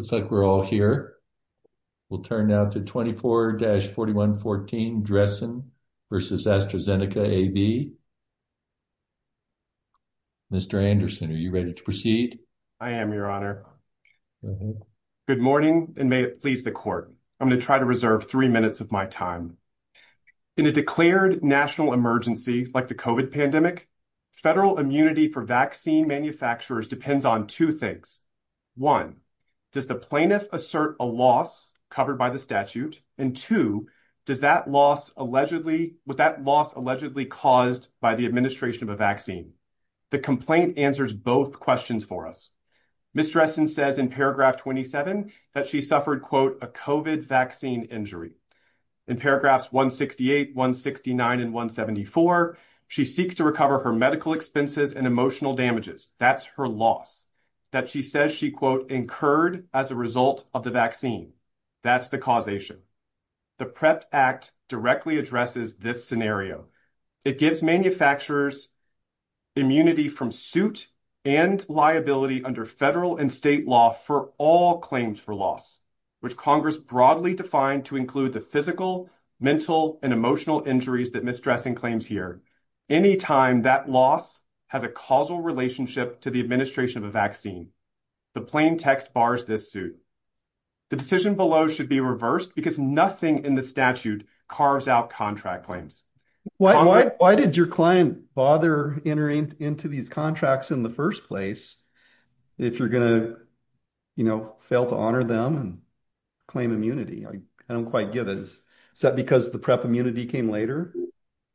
Looks like we're all here. We'll turn now to 24-4114, Dressen v. AstraZeneca AB. Mr. Anderson, are you ready to proceed? I am, Your Honor. Good morning, and may it please the Court. I'm going to try to reserve three minutes of my time. In a declared national emergency like the COVID pandemic, federal immunity for vaccine manufacturers depends on two things. One, does the plaintiff assert a loss covered by the statute? And two, was that loss allegedly caused by the administration of a vaccine? The complaint answers both questions for us. Ms. Dressen says in paragraph 27 that she suffered, quote, a COVID vaccine injury. In paragraphs 168, 169, and 174, she seeks to recover her medical expenses and emotional damages. That's her loss that she says she, quote, incurred as a result of the vaccine. That's the causation. The PREP Act directly addresses this scenario. It gives manufacturers immunity from suit and liability under federal and state law for all claims for loss, which Congress broadly defined to include the physical, mental, and emotional injuries that Ms. Dressen claims here. Any time that loss has a causal relationship to the administration of a vaccine, the plain text bars this suit. The decision below should be reversed because nothing in the statute carves out contract claims. Why did your client bother entering into these contracts in the first place if you're going to, you know, fail to honor them and claim immunity? I don't quite get it. Is that because the PREP immunity came later?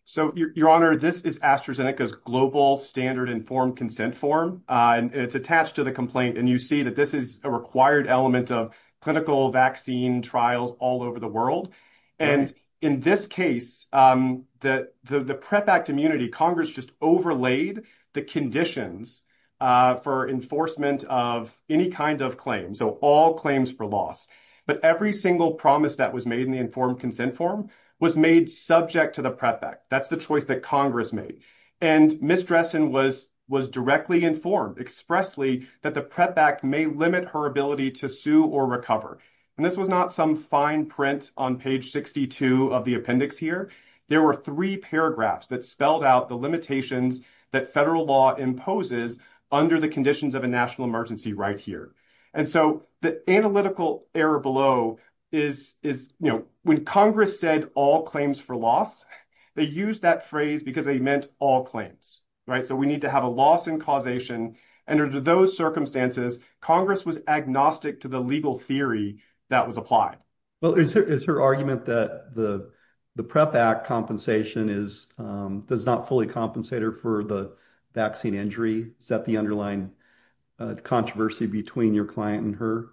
So, your honor, this is AstraZeneca's global standard informed consent form. It's attached to the complaint. And you see that this is a required element of clinical vaccine trials all over the world. And in this case, the PREP Act immunity, Congress just overlaid the conditions for enforcement of any kind of claim. So, all claims for loss. But every single promise that was made in the informed consent form was made subject to the PREP Act. That's the choice that Congress made. And Ms. Dressen was directly informed expressly that the PREP Act may limit her ability to sue or recover. And this was not some fine print on page 62 of the appendix here. There were three paragraphs that spelled out the limitations that federal law imposes under the conditions of a national emergency right here. And so, the analytical error below is, you know, when Congress said all claims for loss, they used that phrase because they meant all claims, right? So, we need to have a loss in causation. And under those circumstances, Congress was agnostic to the legal theory that was applied. Well, is her argument that the PREP Act compensation does not fully compensate her for the vaccine injury? Is that the underlying controversy between your client and her?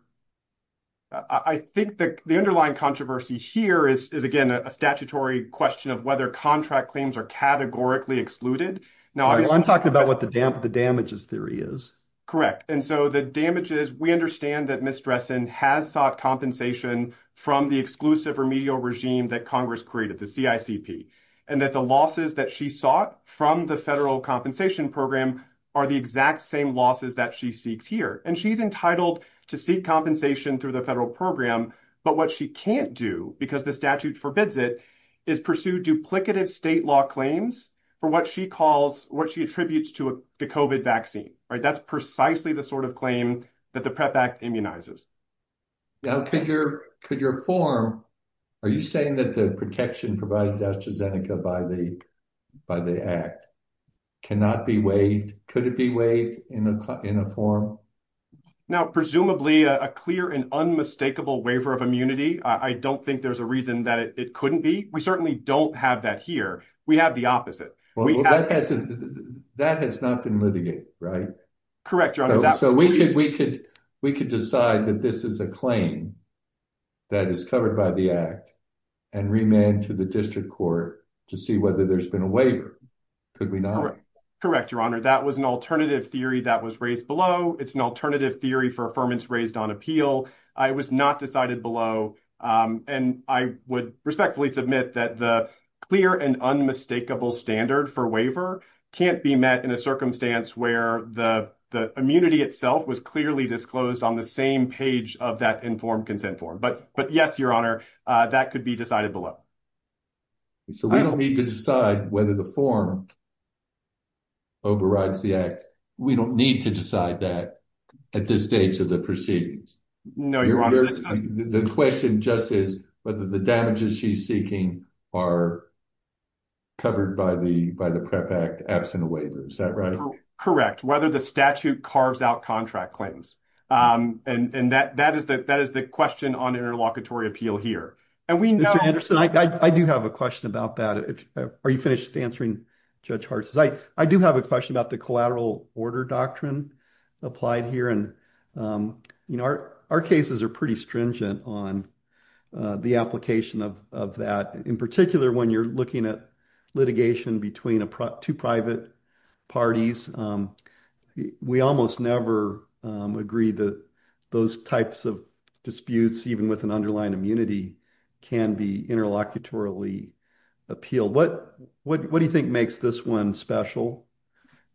I think the underlying controversy here is, again, a statutory question of whether contract claims are categorically excluded. I'm talking about what the damages theory is. Correct. And so, the damages, we understand that Ms. Dressen has sought compensation from the exclusive remedial regime that Congress created, the CICP. And that the losses that she sought from the federal compensation program are the exact same losses that she seeks here. And she's entitled to seek compensation through the federal program. But what she can't do, because the statute forbids it, is pursue duplicative state claims for what she calls, what she attributes to the COVID vaccine, right? That's precisely the sort of claim that the PREP Act immunizes. Now, could your form, are you saying that the protection provided to AstraZeneca by the act cannot be waived? Could it be waived in a form? Now, presumably, a clear and unmistakable waiver of immunity. I don't think there's reason that it couldn't be. We certainly don't have that here. We have the opposite. That has not been litigated, right? Correct, Your Honor. So, we could decide that this is a claim that is covered by the act and remand to the district court to see whether there's been a waiver. Could we not? Correct, Your Honor. That was an alternative theory that was raised below. It's an alternative theory. I would respectfully submit that the clear and unmistakable standard for waiver can't be met in a circumstance where the immunity itself was clearly disclosed on the same page of that informed consent form. But yes, Your Honor, that could be decided below. So, we don't need to decide whether the form overrides the act. We don't need to decide that at this stage of the proceedings. No, Your Honor. The question just is whether the damages she's seeking are covered by the PREP Act absent a waiver. Is that right? Correct. Whether the statute carves out contract claims. And that is the question on interlocutory appeal here. Mr. Anderson, I do have a question about that. Are you finished answering Judge Hartz? I do have a question about the collateral order doctrine applied here. Our cases are pretty stringent on the application of that. In particular, when you're looking at litigation between two private parties, we almost never agree that those types of disputes, even with an underlying immunity, can be interlocutory appeal. What do you think makes this one special?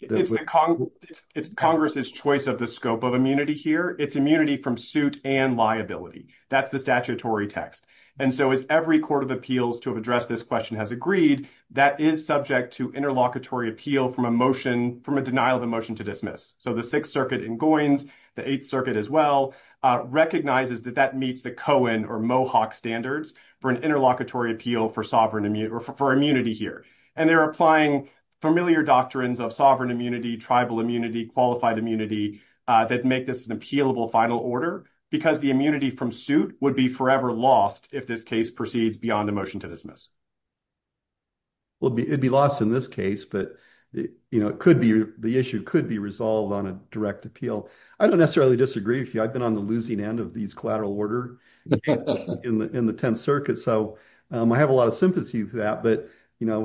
It's Congress's choice of the scope of immunity here. It's immunity from suit and liability. That's the statutory text. And so, as every court of appeals to address this question has agreed, that is subject to interlocutory appeal from a motion, from a denial of a motion to dismiss. So, the Sixth Circuit in Goins, the Eighth Circuit as well, recognizes that that meets the Cohen or Mohawk standards for an interlocutory appeal for immunity here. And they're applying familiar doctrines of sovereign immunity, tribal immunity, qualified immunity that make this an appealable final order because the immunity from suit would be forever lost if this case proceeds beyond a motion to dismiss. Well, it'd be lost in this case, but the issue could be resolved on a direct appeal. I don't necessarily disagree with you. I've been on the losing end of these collateral order in the Tenth Circuit. So, I have a lot of sympathy for that. But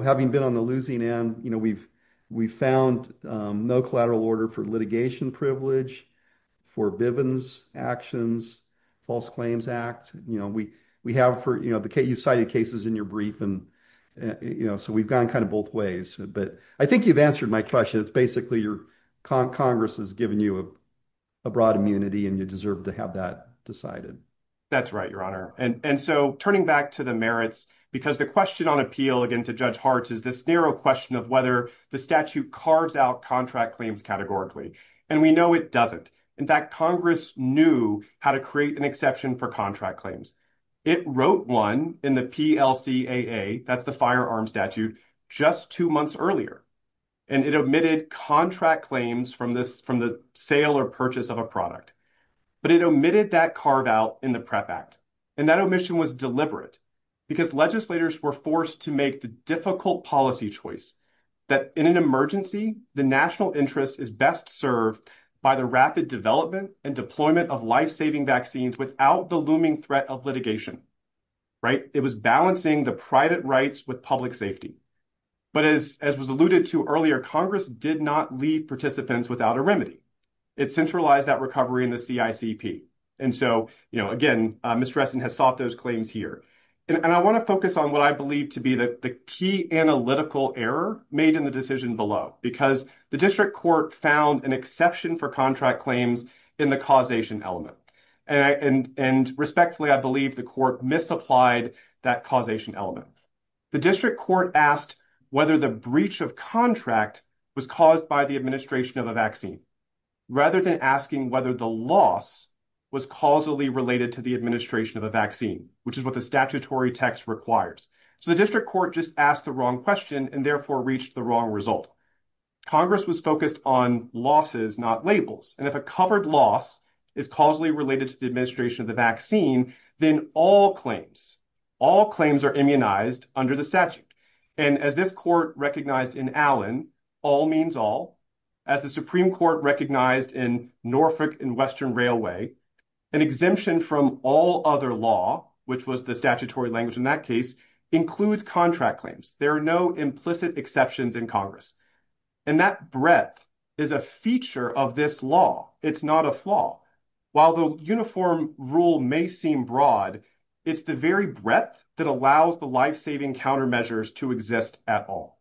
having been on the losing end, we've found no collateral order for litigation privilege, for Bivens Actions, False Claims Act. You've cited cases in your brief, so we've gone kind of both ways. But I think you've answered my question. It's basically Congress has given you a broad immunity and you deserve to have that decided. That's right, Your Honor. And so, turning back to the merits, because the question on appeal, again, to Judge Hartz is this narrow question of whether the statute carves out contract claims categorically. And we know it doesn't. In fact, Congress knew how to create an exception for contract claims. It wrote one in the PLCAA, that's the firearms statute, just two months earlier. And it omitted contract claims from the sale or purchase of a product. But it omitted that carve out in the PREP Act. And that omission was deliberate, because legislators were forced to make the difficult policy choice that in an emergency, the national interest is best served by the rapid development and deployment of life-saving vaccines without the looming threat of litigation. It was balancing the private rights with public safety. But as was alluded to earlier, Congress did not leave participants without a remedy. It centralized that recovery in the CICP. And so, again, Ms. Dressen has sought those claims here. And I want to focus on what I believe to be the key analytical error made in the decision below, because the district court found an exception for contract claims in the causation element. And respectfully, I believe the court misapplied that causation element. The district court asked whether the breach of contract was caused by the administration of a vaccine, rather than asking whether the loss was causally related to the administration of a vaccine, which is what the statutory text requires. So the district court just asked the wrong question and therefore reached the wrong result. Congress was focused on losses, not labels. And if a covered loss is causally related to the administration of the vaccine, then all claims, all claims are immunized under the statute. And as this court recognized in Allen, all means all, as the Supreme Court recognized in Norfolk and Western Railway, an exemption from all other law, which was the statutory language in that case, includes contract claims. There are no implicit exceptions in Congress. And that breadth is a feature of this law. It's not a flaw. While the uniform rule may seem broad, it's the very breadth that allows the life-saving countermeasures to exist at all.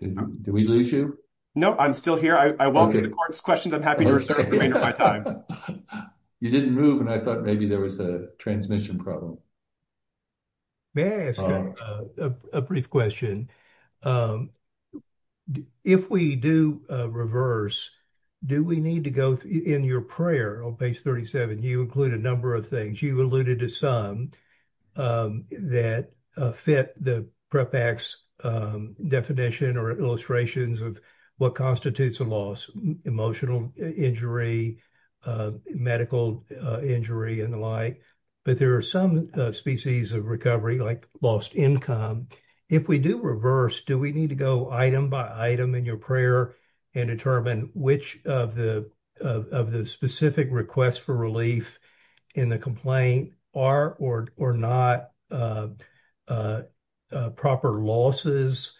Did we lose you? No, I'm still here. I welcome the court's questions. I'm happy to restore the remainder of my time. You didn't move and I thought maybe there was a transmission problem. May I ask a brief question? If we do reverse, do we need to go in your prayer on page 37, you include a number of things. You alluded to some that fit the PREP Act's definition or illustrations of what constitutes a loss, emotional injury, medical injury and the like. But there are some species of recovery like lost income. If we do reverse, do we need to go item by item in your prayer and determine which of the specific requests for relief in the complaint are or not proper losses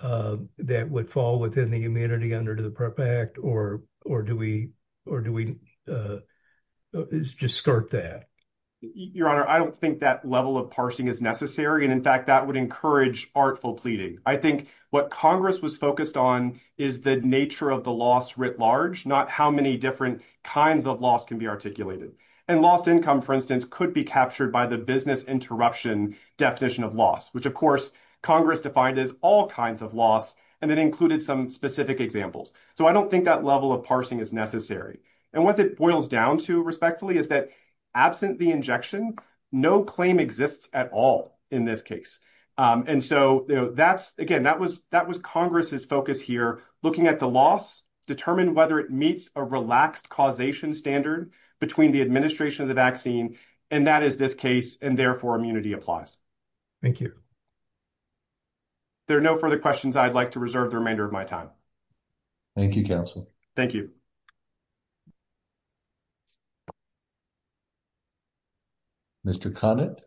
that would fall within the immunity under the PREP Act or do we just start that? Your Honor, I don't think that level of parsing is necessary. And in fact, that would encourage artful pleading. I think what Congress was focused on is the nature of the loss writ large, not how many different kinds of loss can be articulated. And lost income, for instance, could be captured by the business interruption definition of loss, which of course Congress defined as all kinds of loss. And it included some specific examples. So I don't think that level of parsing is necessary. And what it boils down to respectfully is that absent the injection, no claim exists at all in this case. And so that's again, that was Congress's focus here, looking at the loss, determine whether it meets a relaxed causation standard between the administration of the vaccine and that is this case and therefore immunity applies. Thank you. There are no further questions I'd like to reserve the remainder of my time. Thank you, counsel. Thank you. Mr. Conant.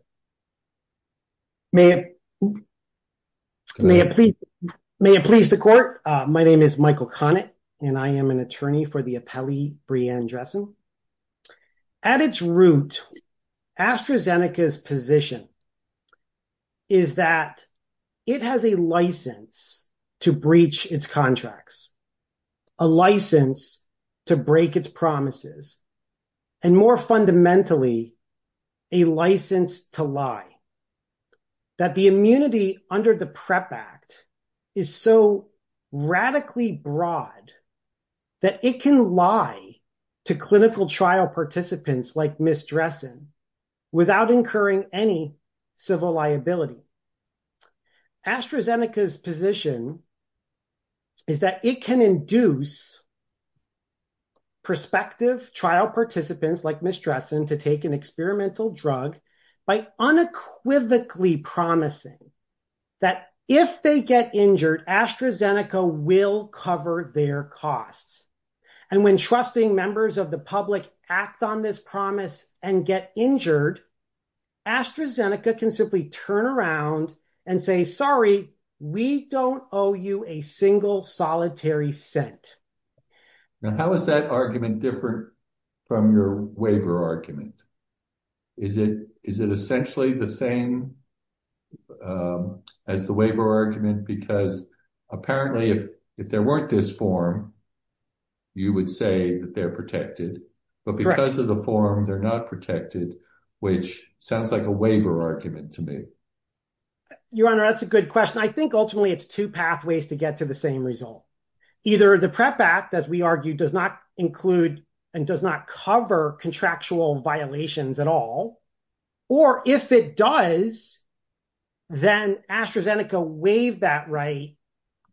May it please the court. My name is Michael Conant and I am an attorney for the United States Congress. A license to break its promises. And more fundamentally, a license to lie. That the immunity under the PrEP Act is so radically broad that it can lie to clinical trial participants like Ms. Dressen without incurring any civil liability. AstraZeneca's position is that it can induce prospective trial participants like Ms. Dressen to take an experimental drug by unequivocally promising that if they get injured, AstraZeneca will cover their costs. And when trusting members of the public act on this promise and get injured, AstraZeneca can simply turn around and say, sorry, we don't owe you a single solitary cent. Now, how is that argument different from your waiver argument? Is it essentially the same as the waiver argument? Because apparently if there weren't this form, you would say that but because of the form, they're not protected, which sounds like a waiver argument to me. Your Honor, that's a good question. I think ultimately it's two pathways to get to the same result. Either the PrEP Act, as we argued, does not include and does not cover contractual violations at all. Or if it does, then AstraZeneca waived that right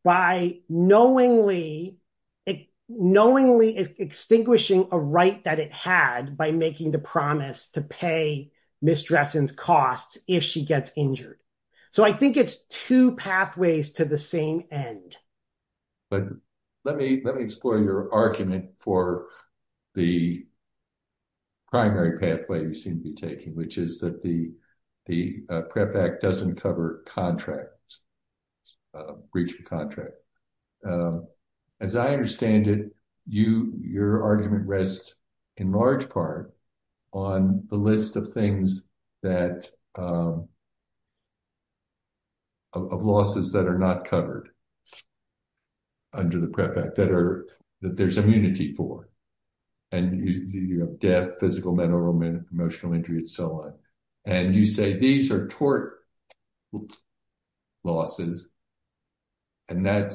by knowingly, it knowingly is extinguishing a right that it had by making the promise to pay Ms. Dressen's costs if she gets injured. So I think it's two pathways to the same end. But let me explore your argument for the primary pathway you seem to be taking, which is that the PrEP Act, as I understand it, your argument rests in large part on the list of things that of losses that are not covered under the PrEP Act that there's immunity for, and you have death, physical, mental, romantic, emotional injury, and so on. And you say these are tort losses and that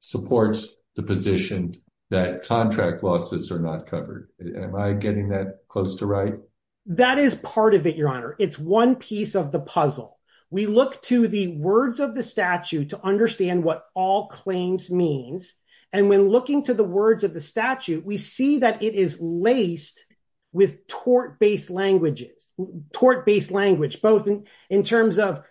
supports the position that contract losses are not covered. Am I getting that close to right? That is part of it, your Honor. It's one piece of the puzzle. We look to the words of the statute to understand what all claims means. And when looking to the words of statute, we see that it is laced with tort-based language, both in terms of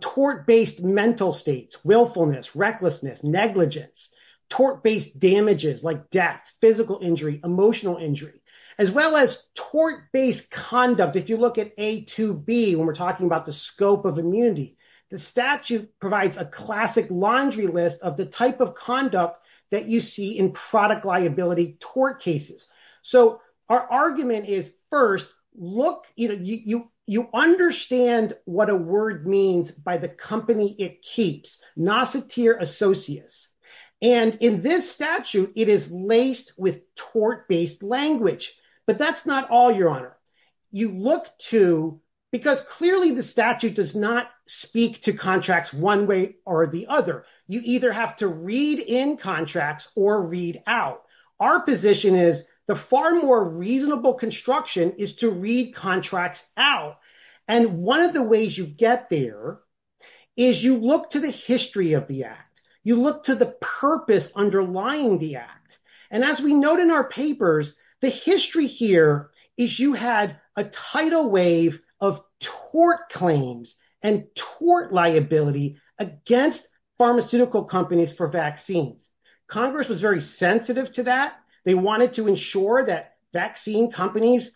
tort-based mental states, willfulness, recklessness, negligence, tort-based damages like death, physical injury, emotional injury, as well as tort-based conduct. If you look at A2B, when we're talking about the scope of immunity, the statute provides a classic laundry list of type of conduct that you see in product liability tort cases. So, our argument is, first, look, you understand what a word means by the company it keeps, noceteer associates. And in this statute, it is laced with tort-based language. But that's not all, your Honor. You look to, because clearly the statute does not speak to contracts one way or the other. You either have to read in contracts or read out. Our position is the far more reasonable construction is to read contracts out. And one of the ways you get there is you look to the history of the act. You look to the purpose underlying the act. And as we note in our papers, the history here is you had a tidal wave of tort claims and tort liability against pharmaceutical companies for vaccines. Congress was very sensitive to that. They wanted to ensure that vaccine companies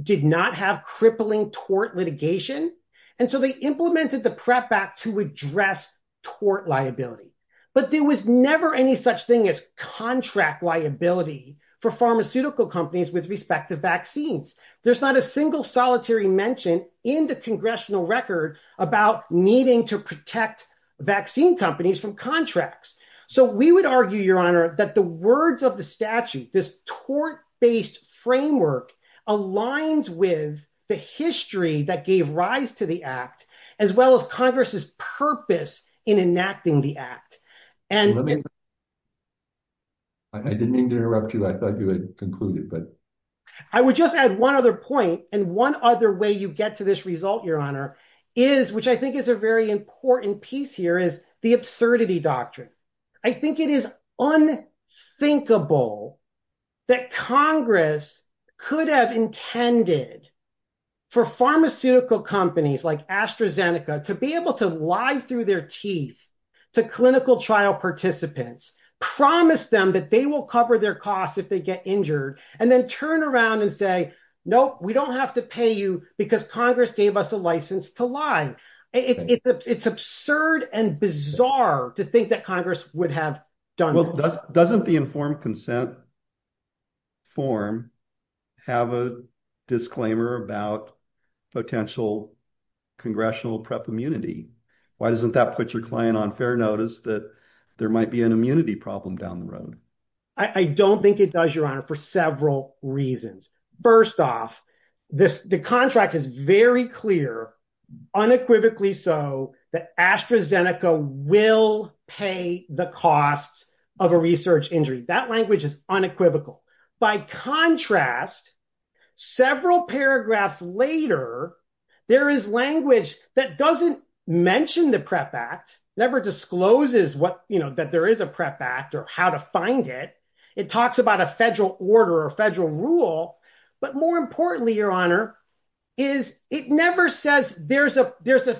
did not have crippling tort litigation. And so, they implemented the PrEP Act to address tort liability. But there was never any such thing as contract liability for pharmaceutical companies with respect to vaccines. There's not a single solitary mention in the congressional record about needing to protect vaccine companies from contracts. So, we would argue, your Honor, that the words of the statute, this tort-based framework, aligns with the history that gave rise to the act, as well as Congress's purpose in enacting the act. And- Let me- I didn't mean to interrupt you. I thought you had concluded, but- I would just add one other point. And one other way you get to this result, your Honor, is, which I think is a very important piece here, is the absurdity doctrine. I think it is unthinkable that Congress could have intended for pharmaceutical companies, like AstraZeneca, to be able to lie through their teeth to clinical trial participants, promise them that they will cover their costs if they get injured, and then turn around and say, nope, we don't have to pay you because Congress gave us a license to lie. It's absurd and bizarre to think that Congress would have done that. Well, doesn't the informed consent form have a disclaimer about potential congressional PrEP immunity? Why doesn't that put your client on fair notice that there might be an immunity problem down the road? I don't think it does, your Honor, for several reasons. First off, the contract is very clear, unequivocally so, that AstraZeneca will pay the costs of a research injury. That language is unequivocal. By contrast, several paragraphs later, there is language that doesn't mention the PrEP Act, never discloses that there is a PrEP Act or how to find it. It talks about a federal order or a federal rule. More importantly, your Honor, it never says there's a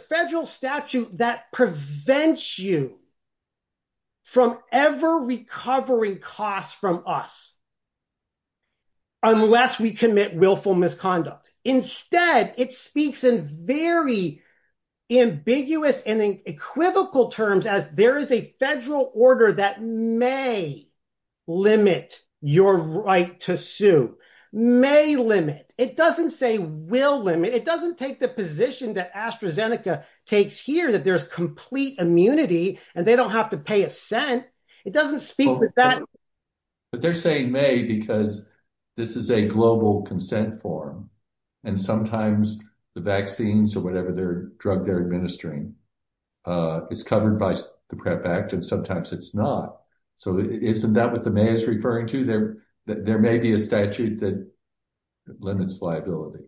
federal statute that prevents you from ever recovering costs from us unless we commit willful misconduct. Instead, it speaks in very ambiguous and equivocal terms as there is a federal order that may limit your right to sue. It doesn't say will limit, it doesn't take the position that AstraZeneca takes here that there's complete immunity and they don't have to pay a cent. It doesn't speak to that. But they're saying may because this is a global consent form and sometimes the vaccines or whatever drug they're administering is covered by the PrEP Act and sometimes it's not. Isn't that what the mayors referring to? There may be a statute that limits liability.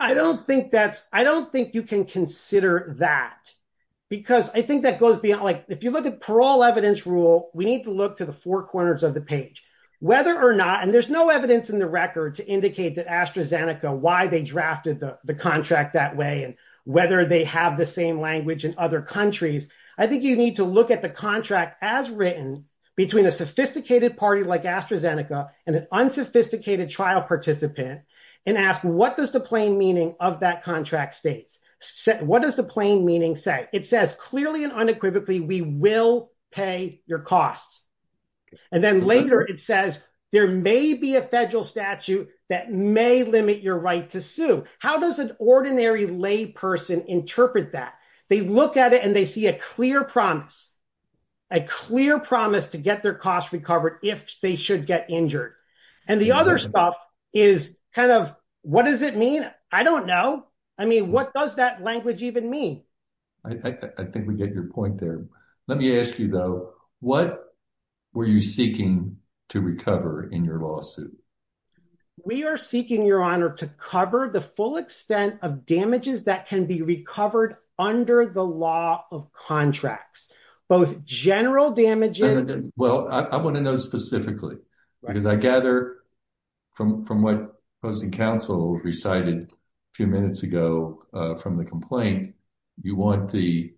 I don't think that's, I don't think you can consider that because I think that if you look at parole evidence rule, we need to look to the four corners of the page, whether or not, and there's no evidence in the record to indicate that AstraZeneca, why they drafted the contract that way and whether they have the same language in other countries. I think you need to look at the contract as written between a sophisticated party like AstraZeneca and an unsophisticated trial participant and ask what does the plain meaning of that we will pay your costs. And then later it says there may be a federal statute that may limit your right to sue. How does an ordinary lay person interpret that? They look at it and they see a clear promise, a clear promise to get their costs recovered if they should get injured. And the other stuff is kind of, what does it mean? I don't know. I mean, what does that even mean? I think we get your point there. Let me ask you though, what were you seeking to recover in your lawsuit? We are seeking your honor to cover the full extent of damages that can be recovered under the law of contracts, both general damages. Well, I want to know specifically because I gather from what opposing counsel recited a few minutes ago from the complaint, you want to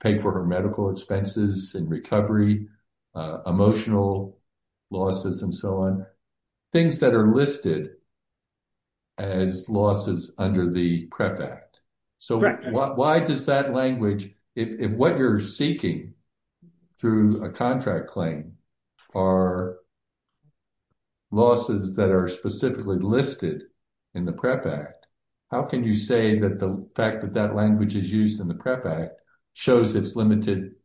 pay for her medical expenses and recovery, emotional losses and so on, things that are listed as losses under the PREP Act. So why does that language, if what you're seeking through a contract claim are losses that are specifically listed in the PREP Act, how can you say that the fact that that language is used in the PREP Act shows it's limited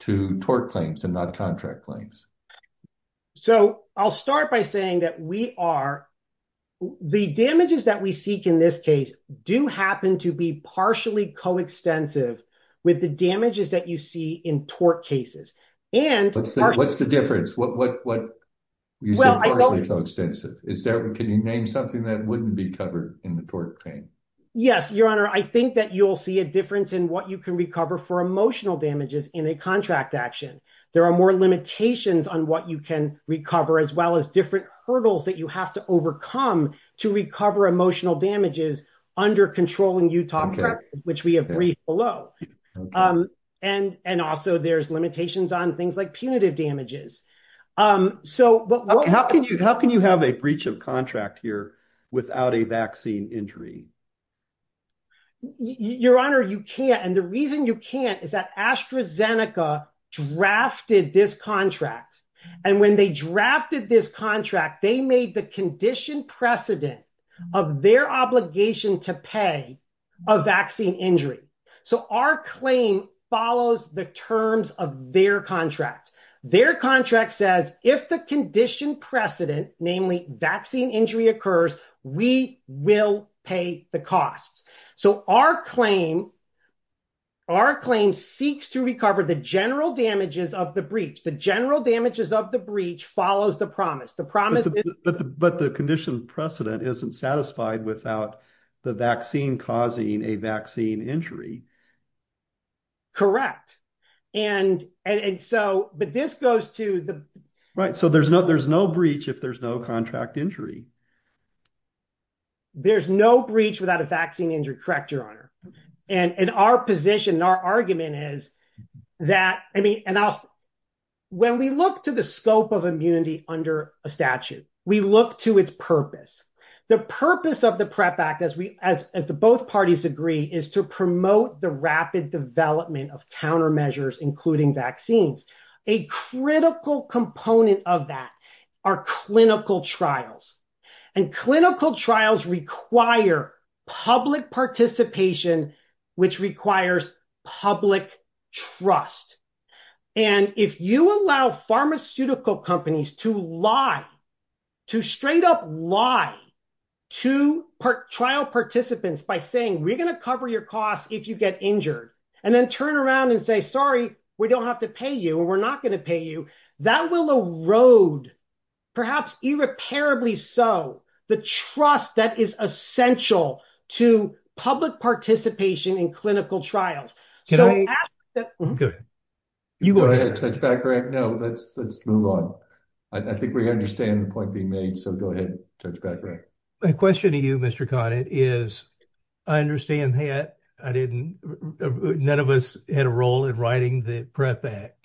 to tort claims and not contract claims? So I'll start by saying that we are, the damages that we seek in this case do happen to be partially coextensive with the damages that you see in tort cases. And what's the difference? What you said partially coextensive. Can you name something that wouldn't be covered in the tort claim? Yes, your honor. I think that you'll see a difference in what you can recover for emotional damages in a contract action. There are more limitations on what you can recover as well as different hurdles that you have to overcome to recover emotional damages under controlling Utah PREP, which we have briefed below. And also there's limitations on things like punitive damages. How can you have a breach of contract here without a vaccine injury? Your honor, you can't. And the reason you can't is that AstraZeneca drafted this contract. And when they drafted this contract, they made the condition precedent of their obligation to pay a vaccine injury. So our claim follows the terms of their contract. Their contract says if the costs. So our claim seeks to recover the general damages of the breach. The general damages of the breach follows the promise. But the condition precedent isn't satisfied without the vaccine causing a vaccine injury. Correct. But this goes to the... Right. So there's no breach if there's no contract injury. There's no breach without a vaccine injury. Correct, your honor. And our position, our argument is that, I mean, when we look to the scope of immunity under a statute, we look to its purpose. The purpose of the PREP Act, as the both parties agree, is to promote the rapid development of countermeasures, including vaccines. A critical component of that are clinical trials. And clinical trials require public participation, which requires public trust. And if you allow pharmaceutical companies to lie, to straight up lie to trial participants by saying, we're going to cover your costs if you get injured, and then turn around and say, sorry, we don't have to pay you or we're not going to pay you, that will erode, perhaps irreparably so, the trust that is essential to public participation in clinical trials. You go ahead. Touch back, right? No, let's move on. I think we understand the point being made. So go ahead. Touch back, right? My question to you, Mr. Conant, is I understand that none of us had a role in writing the PREP Act.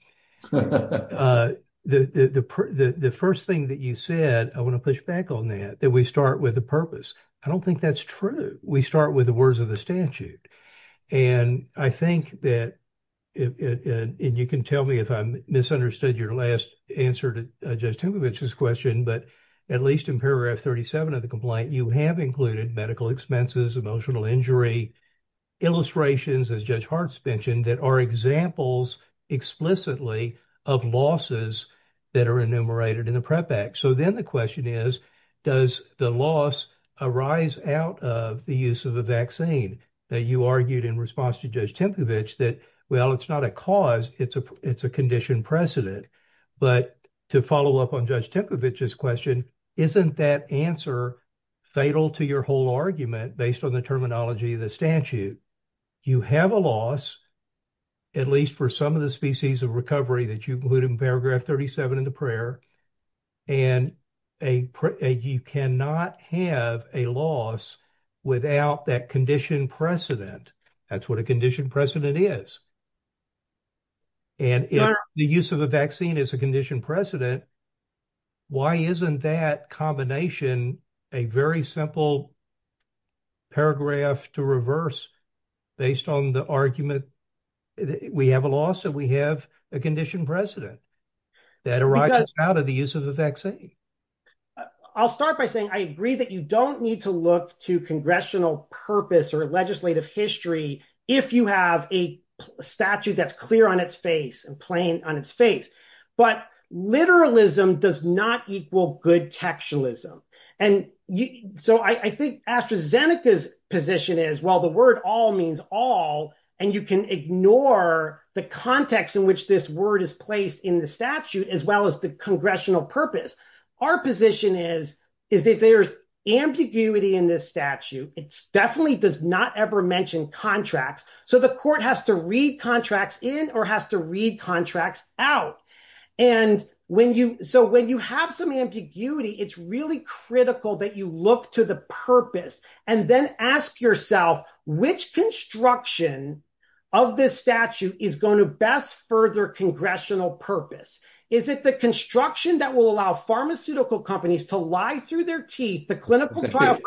The first thing that you said, I want to push back on that, that we start with the purpose. I don't think that's true. We start with the words of the statute. And I think that, and you can tell me if I misunderstood your last answer to Judge Timcovich's question, but at least in paragraph 37 of the complaint, you have included medical expenses, emotional injury, illustrations, as Judge Hart's mentioned, that are examples explicitly of losses that are enumerated in the PREP Act. So then the question is, does the loss arise out of the use of a vaccine that you argued in response to Judge Timcovich that, well, it's not a cause, it's a condition precedent. But to follow up on Judge Timcovich's question, isn't that answer fatal to your whole argument based on the terminology of the statute? You have a loss, at least for some of the species of recovery that you put in paragraph 37 in the prayer, and you cannot have a loss without that condition precedent. That's what a condition precedent. Why isn't that combination a very simple paragraph to reverse based on the argument we have a loss and we have a condition precedent that arises out of the use of a vaccine? I'll start by saying I agree that you don't need to look to congressional purpose or legislative history if you have a statute that's clear on its face and plain on its face. But literalism does not equal good textualism. And so I think AstraZeneca's position is, well, the word all means all, and you can ignore the context in which this word is placed in the statute, as well as the congressional purpose. Our position is, is that there's ambiguity in this statute. It definitely does not ever mention contracts. So the court has to read contracts in or has to read contracts out. And so when you have some ambiguity, it's really critical that you look to the purpose and then ask yourself which construction of this statute is going to best further congressional purpose. Is it the construction that will allow pharmaceutical companies to lie through their teeth? The clinical trial?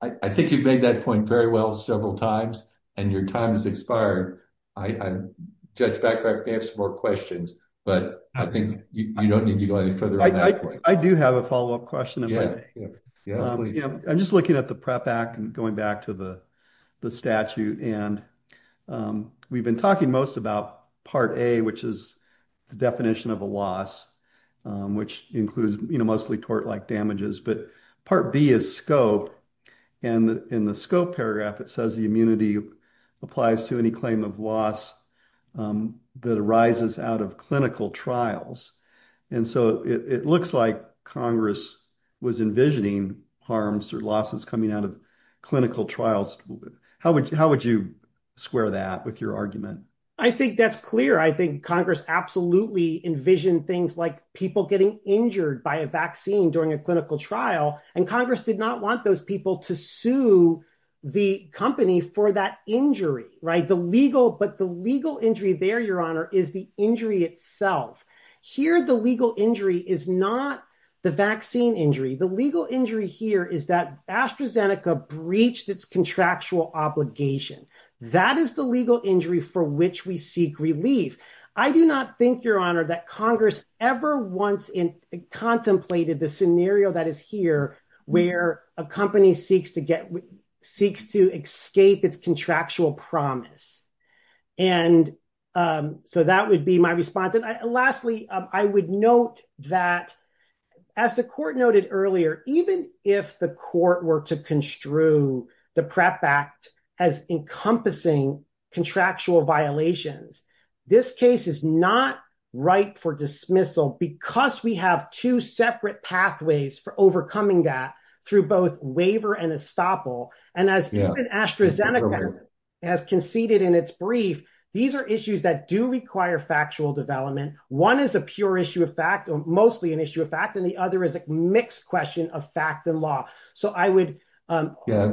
I think you've made that point very well several times and your time has expired. Judge Becker, I may have some more questions, but I think you don't need to go any further on that point. I do have a follow-up question. I'm just looking at the PrEP Act and going back to the statute. And we've been talking most about Part A, which is the definition of a mostly tort-like damages, but Part B is scope. And in the scope paragraph, it says the immunity applies to any claim of loss that arises out of clinical trials. And so it looks like Congress was envisioning harms or losses coming out of clinical trials. How would you square that with your argument? I think that's clear. I think Congress absolutely envisioned things like people getting injured by a vaccine during a clinical trial. And Congress did not want those people to sue the company for that injury. But the legal injury there, Your Honor, is the injury itself. Here, the legal injury is not the vaccine injury. The legal injury here is that AstraZeneca breached its contractual obligation. That is the legal injury for which we seek relief. I do not think, Your Honor, that Congress ever once contemplated the scenario that is here where a company seeks to escape its contractual promise. And so that would be my response. Lastly, I would note that as the court noted earlier, even if the court were to construe the PREP Act as encompassing contractual violations, this case is not ripe for dismissal because we have two separate pathways for overcoming that through both waiver and estoppel. And as AstraZeneca has conceded in its brief, these are issues that do require factual development. One is a pure issue of fact, or mostly an issue of fact, and the other is a mixed question of law. So I would... Yeah,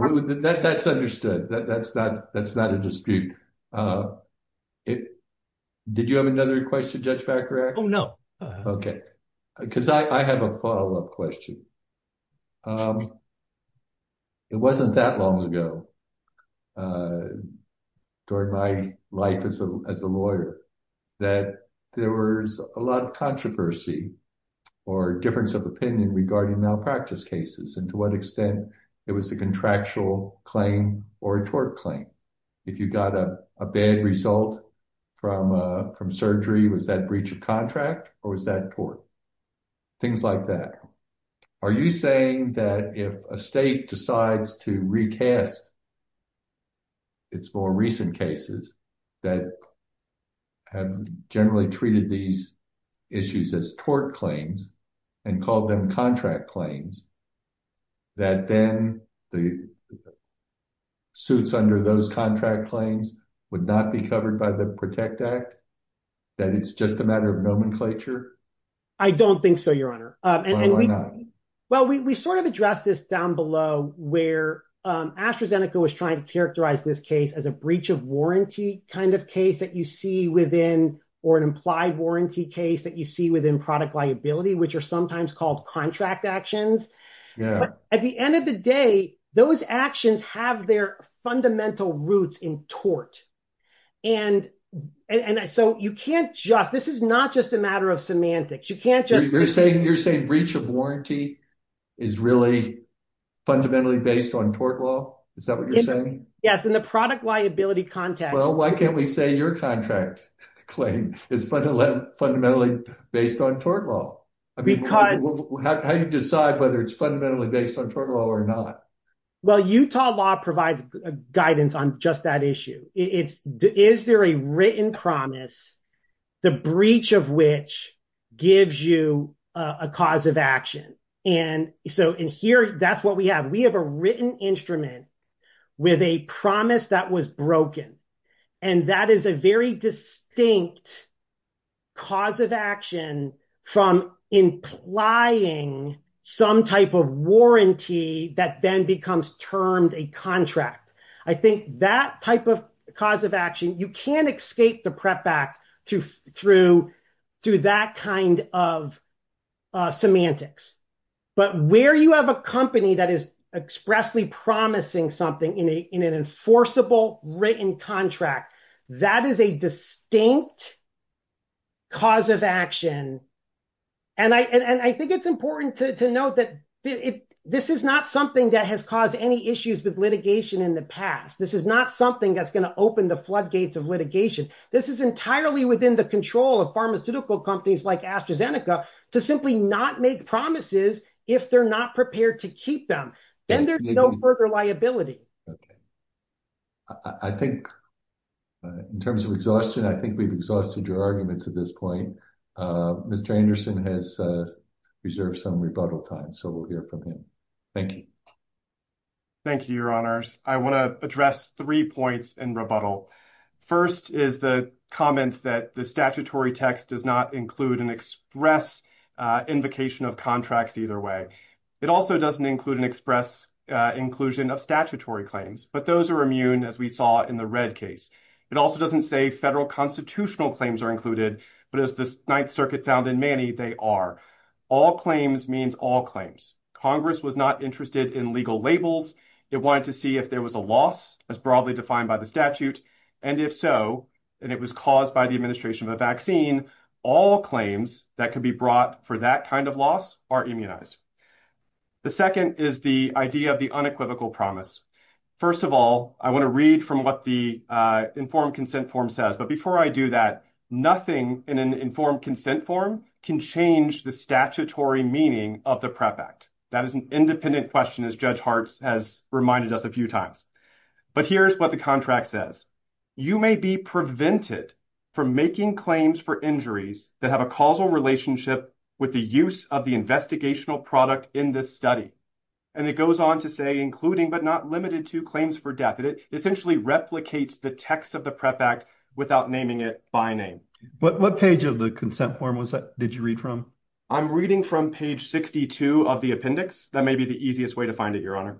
that's understood. That's not a dispute. Did you have another question, Judge Bacharach? Oh, no. Okay. Because I have a follow-up question. It wasn't that long ago during my life as a lawyer that there was a lot of controversy or difference of opinion regarding malpractice cases and to what extent it was a contractual claim or a tort claim. If you got a bad result from surgery, was that breach of contract or was that tort? Things like that. Are you saying that if a state decides to recast its more recent cases that have generally treated these issues as tort claims and called them contract claims, that then the suits under those contract claims would not be covered by the PROTECT Act, that it's just a matter of nomenclature? I don't think so, Your Honor. And we sort of addressed this down below where AstraZeneca was trying to characterize this case as a breach of warranty kind of case that you see within, or an implied warranty case that you see within product liability, which are sometimes called contract actions. At the end of the day, those actions have their fundamental roots in tort. And so you can't just... This is not just a matter of semantics. You can't just... You're saying breach of warranty is really fundamentally based on tort law? Is that what you're saying? Yes, in the product liability context. Well, why can't we say your contract claim is fundamentally based on tort law? How do you decide whether it's fundamentally based on tort law or not? Well, Utah law provides guidance on just that issue. Is there a written promise, the breach of which gives you a cause of action? And so in here, that's what we have. We have a written instrument with a promise that was broken. And that is a very distinct cause of action from implying some type of warranty that then becomes termed a contract. I think that type of cause of action, you can't escape the PREP Act through that kind of semantics. But where you have a company that is expressly promising something in an enforceable written contract, that is a distinct cause of action. And I think it's important to note that this is not something that has caused any issues with litigation in the past. This is not something that's going to open the floodgates of litigation. This is entirely within the control of pharmaceutical companies like AstraZeneca to simply not make promises if they're not prepared to keep them. Then there's no further liability. Okay. I think in terms of exhaustion, I think we've exhausted your arguments at this point. Mr. Anderson has reserved some time, so we'll hear from him. Thank you. Thank you, Your Honors. I want to address three points in rebuttal. First is the comment that the statutory text does not include an express invocation of contracts either way. It also doesn't include an express inclusion of statutory claims, but those are immune as we saw in the red case. It also doesn't say federal constitutional claims are included, but as the Ninth Circuit found in Manny, they are. All claims means all claims. Congress was not interested in legal labels. It wanted to see if there was a loss as broadly defined by the statute. And if so, and it was caused by the administration of a vaccine, all claims that could be brought for that kind of loss are immunized. The second is the idea of the unequivocal promise. First of all, I want to read from what the informed consent form says. But before I do that, nothing in an informed consent form can change the statutory meaning of the PREP Act. That is an independent question, as Judge Hartz has reminded us a few times. But here's what the contract says. You may be prevented from making claims for injuries that have a causal relationship with the use of the investigational product in this study. And it goes on to say, including but not limited to claims for death. And it essentially replicates the text of the PREP Act without naming it by name. What page of the consent form was that? Did you read from? I'm reading from page 62 of the appendix. That may be the easiest way to find it, Your Honor.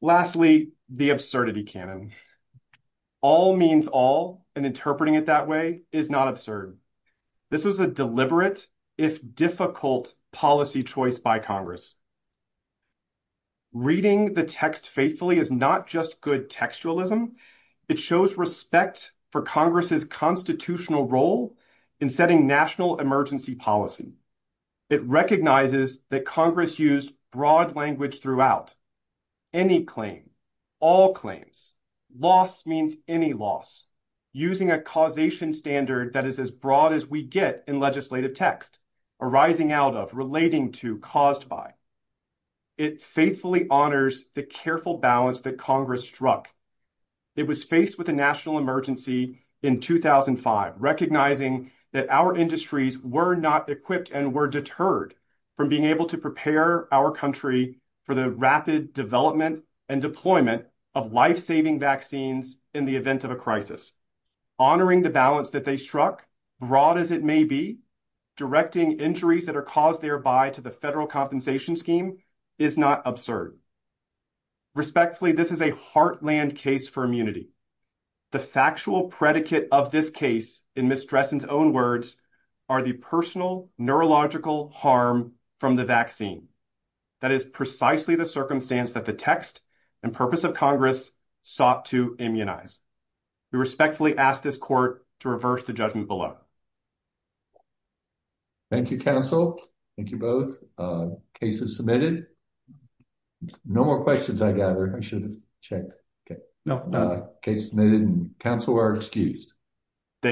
Lastly, the absurdity canon. All means all and interpreting it that way is not absurd. This was a deliberate, if difficult, policy choice by Congress. Reading the text faithfully is not just good textualism. It shows respect for Congress's constitutional role in setting national emergency policy. It recognizes that Congress used broad language throughout. Any claim, all claims. Loss means any loss. Using a causation standard that is as broad as we get in legislative text, arising out of, relating to, caused by. It faithfully honors the careful balance that Congress struck. It was faced with a national emergency in 2005, recognizing that our industries were not equipped and were deterred from being able to prepare our country for the rapid development and deployment of life-saving vaccines in the event of a crisis. Honoring the balance that they struck, broad as it may be, directing injuries that are caused thereby to the federal compensation scheme is not absurd. Respectfully, this is a heartland case for immunity. The factual predicate of this case, in Ms. Dressen's own words, are the personal neurological harm from the vaccine. That is precisely the circumstance that the text and purpose of Congress sought to immunize. We respectfully ask this court to reverse the judgment below. Thank you, counsel. Thank you both. Cases submitted. No more questions, I gather. I should have checked. Okay. No. Cases submitted and counsel are excused. Thank you.